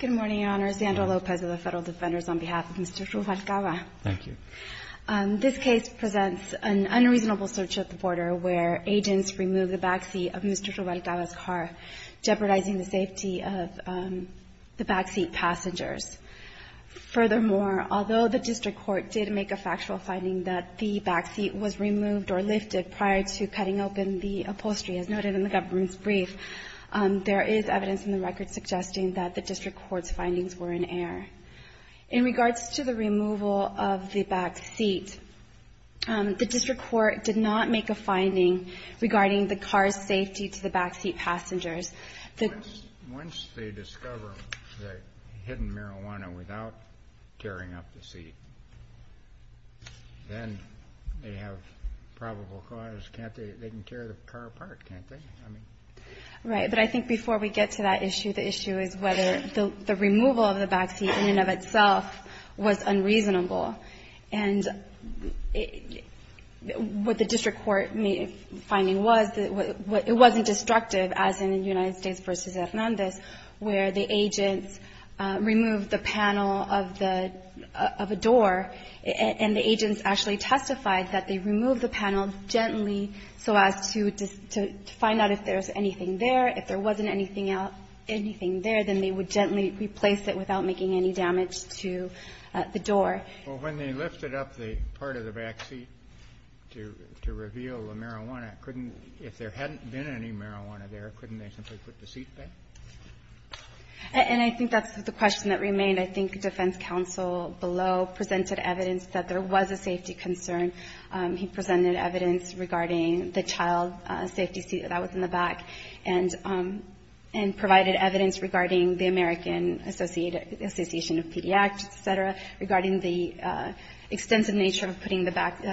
Good morning, Your Honor. Zandra Lopez of the Federal Defenders on behalf of Mr. Ruvalcaba. Thank you. This case presents an unreasonable search at the border where agents removed the backseat of Mr. Ruvalcaba's car, jeopardizing the safety of the backseat passengers. Furthermore, although the district court did make a factual finding that the backseat was removed or lifted prior to cutting open the upholstery, as noted in the government's brief, there is evidence in the record suggesting that the district court's findings were in error. In regards to the removal of the backseat, the district court did not make a finding regarding the car's safety to the backseat passengers. Once they discover the hidden marijuana without tearing up the seat, then they have probable cause, can't they? They can tear the car apart, can't they? Right. But I think before we get to that issue, the issue is whether the removal of the backseat in and of itself was unreasonable. And what the district court finding was, it wasn't destructive, as in the United States v. Hernandez, where the agents removed the panel of the door. And the agents actually testified that they removed the panel gently so as to find out if there was anything there. If there wasn't anything there, then they would gently replace it without making any damage to the door. Well, when they lifted up the part of the backseat to reveal the marijuana, if there hadn't been any marijuana there, couldn't they simply put the seat back? And I think that's the question that remained. I think defense counsel below presented evidence that there was a safety concern. He presented evidence regarding the child safety seat that was in the back and provided evidence regarding the American Association of Pediatrics, et cetera, regarding the extensive nature of putting the back of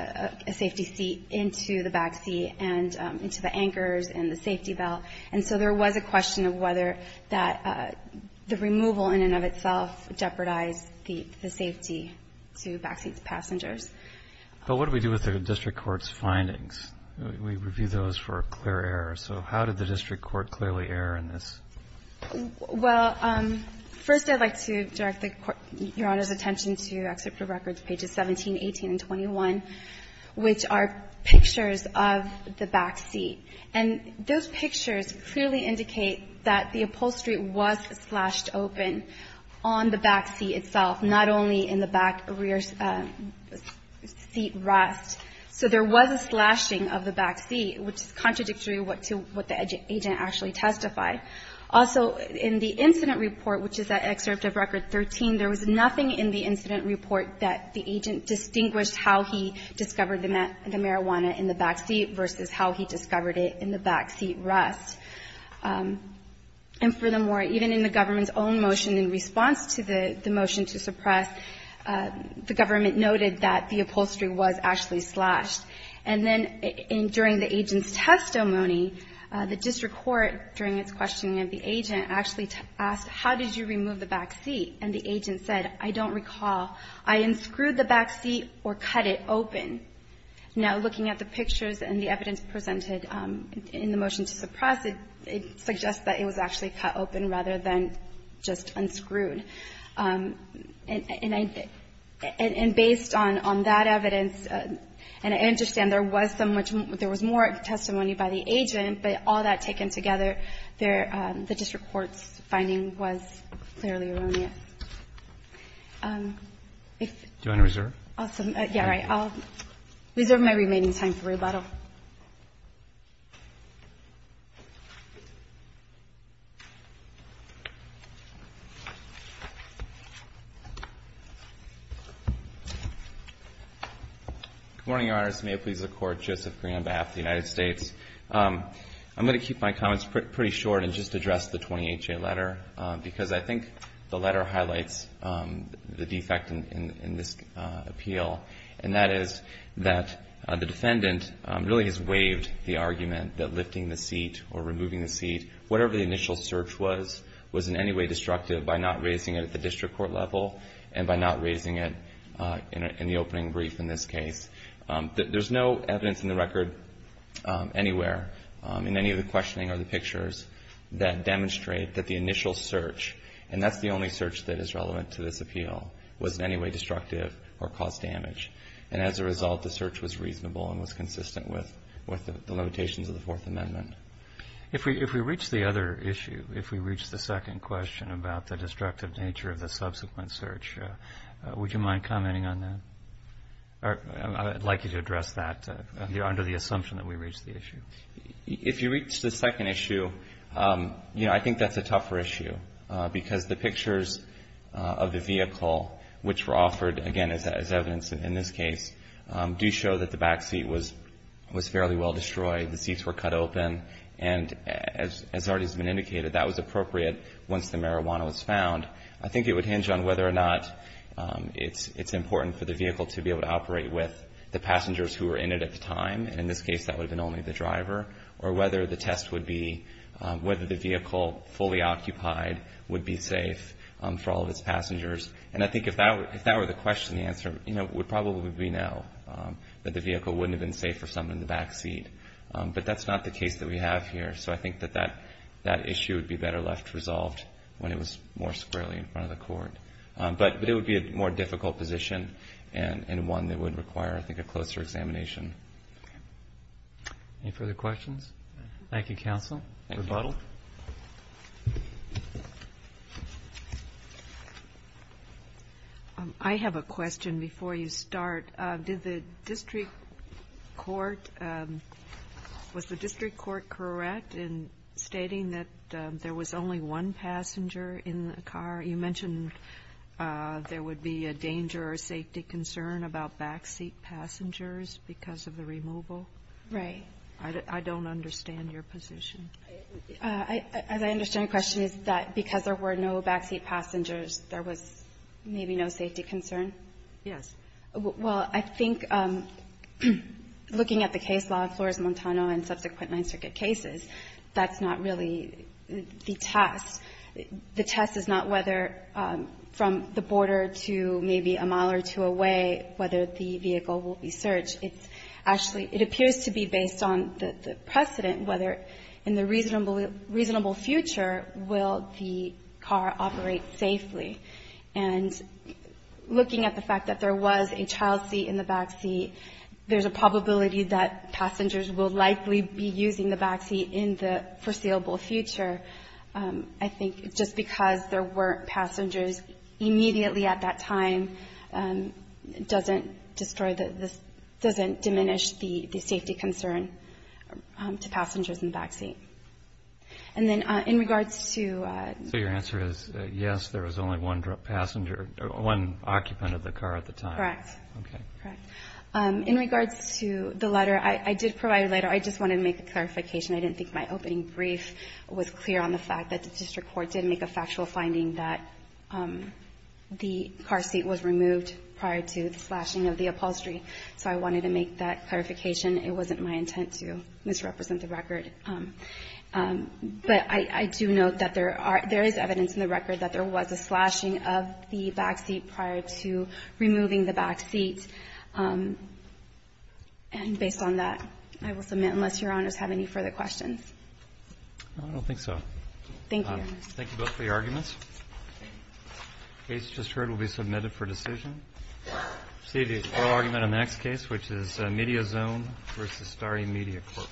a safety seat into the backseat and into the anchors and the safety belt. And so there was a question of whether that the removal in and of itself jeopardized the safety to backseat passengers. But what do we do with the district court's findings? We review those for a clear error. So how did the district court clearly err in this? Well, first, I'd like to direct the Court Your Honor's attention to Excerpt of Records pages 17, 18, and 21, which are pictures of the backseat. And those pictures clearly indicate that the upholstery was slashed open on the backseat itself, not only in the back rear seat rest. So there was a slashing of the backseat, which is contradictory to what the agent actually testified. Also, in the incident report, which is at Excerpt of Record 13, there was nothing in the incident report that the agent distinguished how he discovered the marijuana in the backseat versus how he discovered it in the backseat rest. And furthermore, even in the government's own motion in response to the motion to suppress, the government noted that the upholstery was actually slashed. And then during the agent's testimony, the district court, during its questioning of the agent, actually asked, how did you remove the backseat? And the agent said, I don't recall. I unscrewed the backseat or cut it open. Now, looking at the pictures and the evidence presented in the motion to suppress, it suggests that it was actually cut open rather than just unscrewed. And based on that evidence, and I understand there was more testimony by the agent, but all that taken together, the district court's finding was clearly erroneous. If you want to reserve? Yeah, right. I'll reserve my remaining time for rebuttal. Good morning, Your Honors. May it please the Court, Joseph Green on behalf of the United States. I'm going to keep my comments pretty short and just address the 28-J letter because I think the letter highlights the defect in this appeal, and that is that the defendant really has waived the argument that lifting the seat or removing the seat, whatever the initial search was, was in any way destructive by not raising it at the district court level and by not raising it in the opening brief in this case. There's no evidence in the record anywhere, in any of the questioning or the pictures, that demonstrate that the initial search, and that's the only search that is relevant to this appeal, was in any way destructive or caused damage. And as a result, the search was reasonable and was consistent with the limitations of the Fourth Amendment. If we reach the other issue, if we reach the second question about the destructive nature of the subsequent search, would you mind commenting on that? I'd like you to address that under the assumption that we reached the issue. If you reach the second issue, you know, I think that's a tougher issue because the pictures of the vehicle, which were offered, again, as evidence in this case, do show that the back seat was fairly well destroyed. The seats were cut open, and as already has been indicated, that was appropriate once the marijuana was found. I think it would hinge on whether or not it's important for the vehicle to be able to operate with the passengers who were in it at the time, and in this case that would have been only the driver, or whether the test would be whether the vehicle fully occupied would be safe for all of its passengers. And I think if that were the question, the answer would probably be no, that the vehicle wouldn't have been safe for someone in the back seat. But that's not the case that we have here, so I think that that issue would be better left resolved when it was more squarely in front of the court. But it would be a more difficult position and one that would require, I think, a closer examination. Any further questions? Thank you, counsel. Rebuttal. I have a question before you start. Did the district court, was the district court correct in stating that there was only one passenger in the car? You mentioned there would be a danger or safety concern about back seat passengers because of the removal. Right. I don't understand your position. As I understand the question, is that because there were no back seat passengers, there was maybe no safety concern? Yes. Well, I think looking at the case law in Flores-Montano and subsequent Ninth Circuit cases, that's not really the test. The test is not whether from the border to maybe a mile or two away whether the vehicle will be searched. It's actually, it appears to be based on the precedent whether in the reasonable future will the car operate safely. And looking at the fact that there was a child seat in the back seat, there's a probability that passengers will likely be using the back seat in the foreseeable future. I think just because there weren't passengers immediately at that time doesn't destroy the, doesn't diminish the safety concern to passengers in the back seat. And then in regards to. So your answer is yes, there was only one passenger, one occupant of the car at the time. Correct. Okay. In regards to the letter, I did provide a letter. I just wanted to make a clarification. I didn't think my opening brief was clear on the fact that the district court did make a factual finding that the car seat was removed prior to the slashing of the upholstery. So I wanted to make that clarification. It wasn't my intent to misrepresent the record. But I do note that there are, there is evidence in the record that there was a slashing of the back seat prior to removing the back seat. And based on that, I will submit, unless Your Honors have any further questions. I don't think so. Thank you. Thank you both for your arguments. The case just heard will be submitted for decision. See the oral argument on the next case, which is Mediozone v. Starry Media Corp.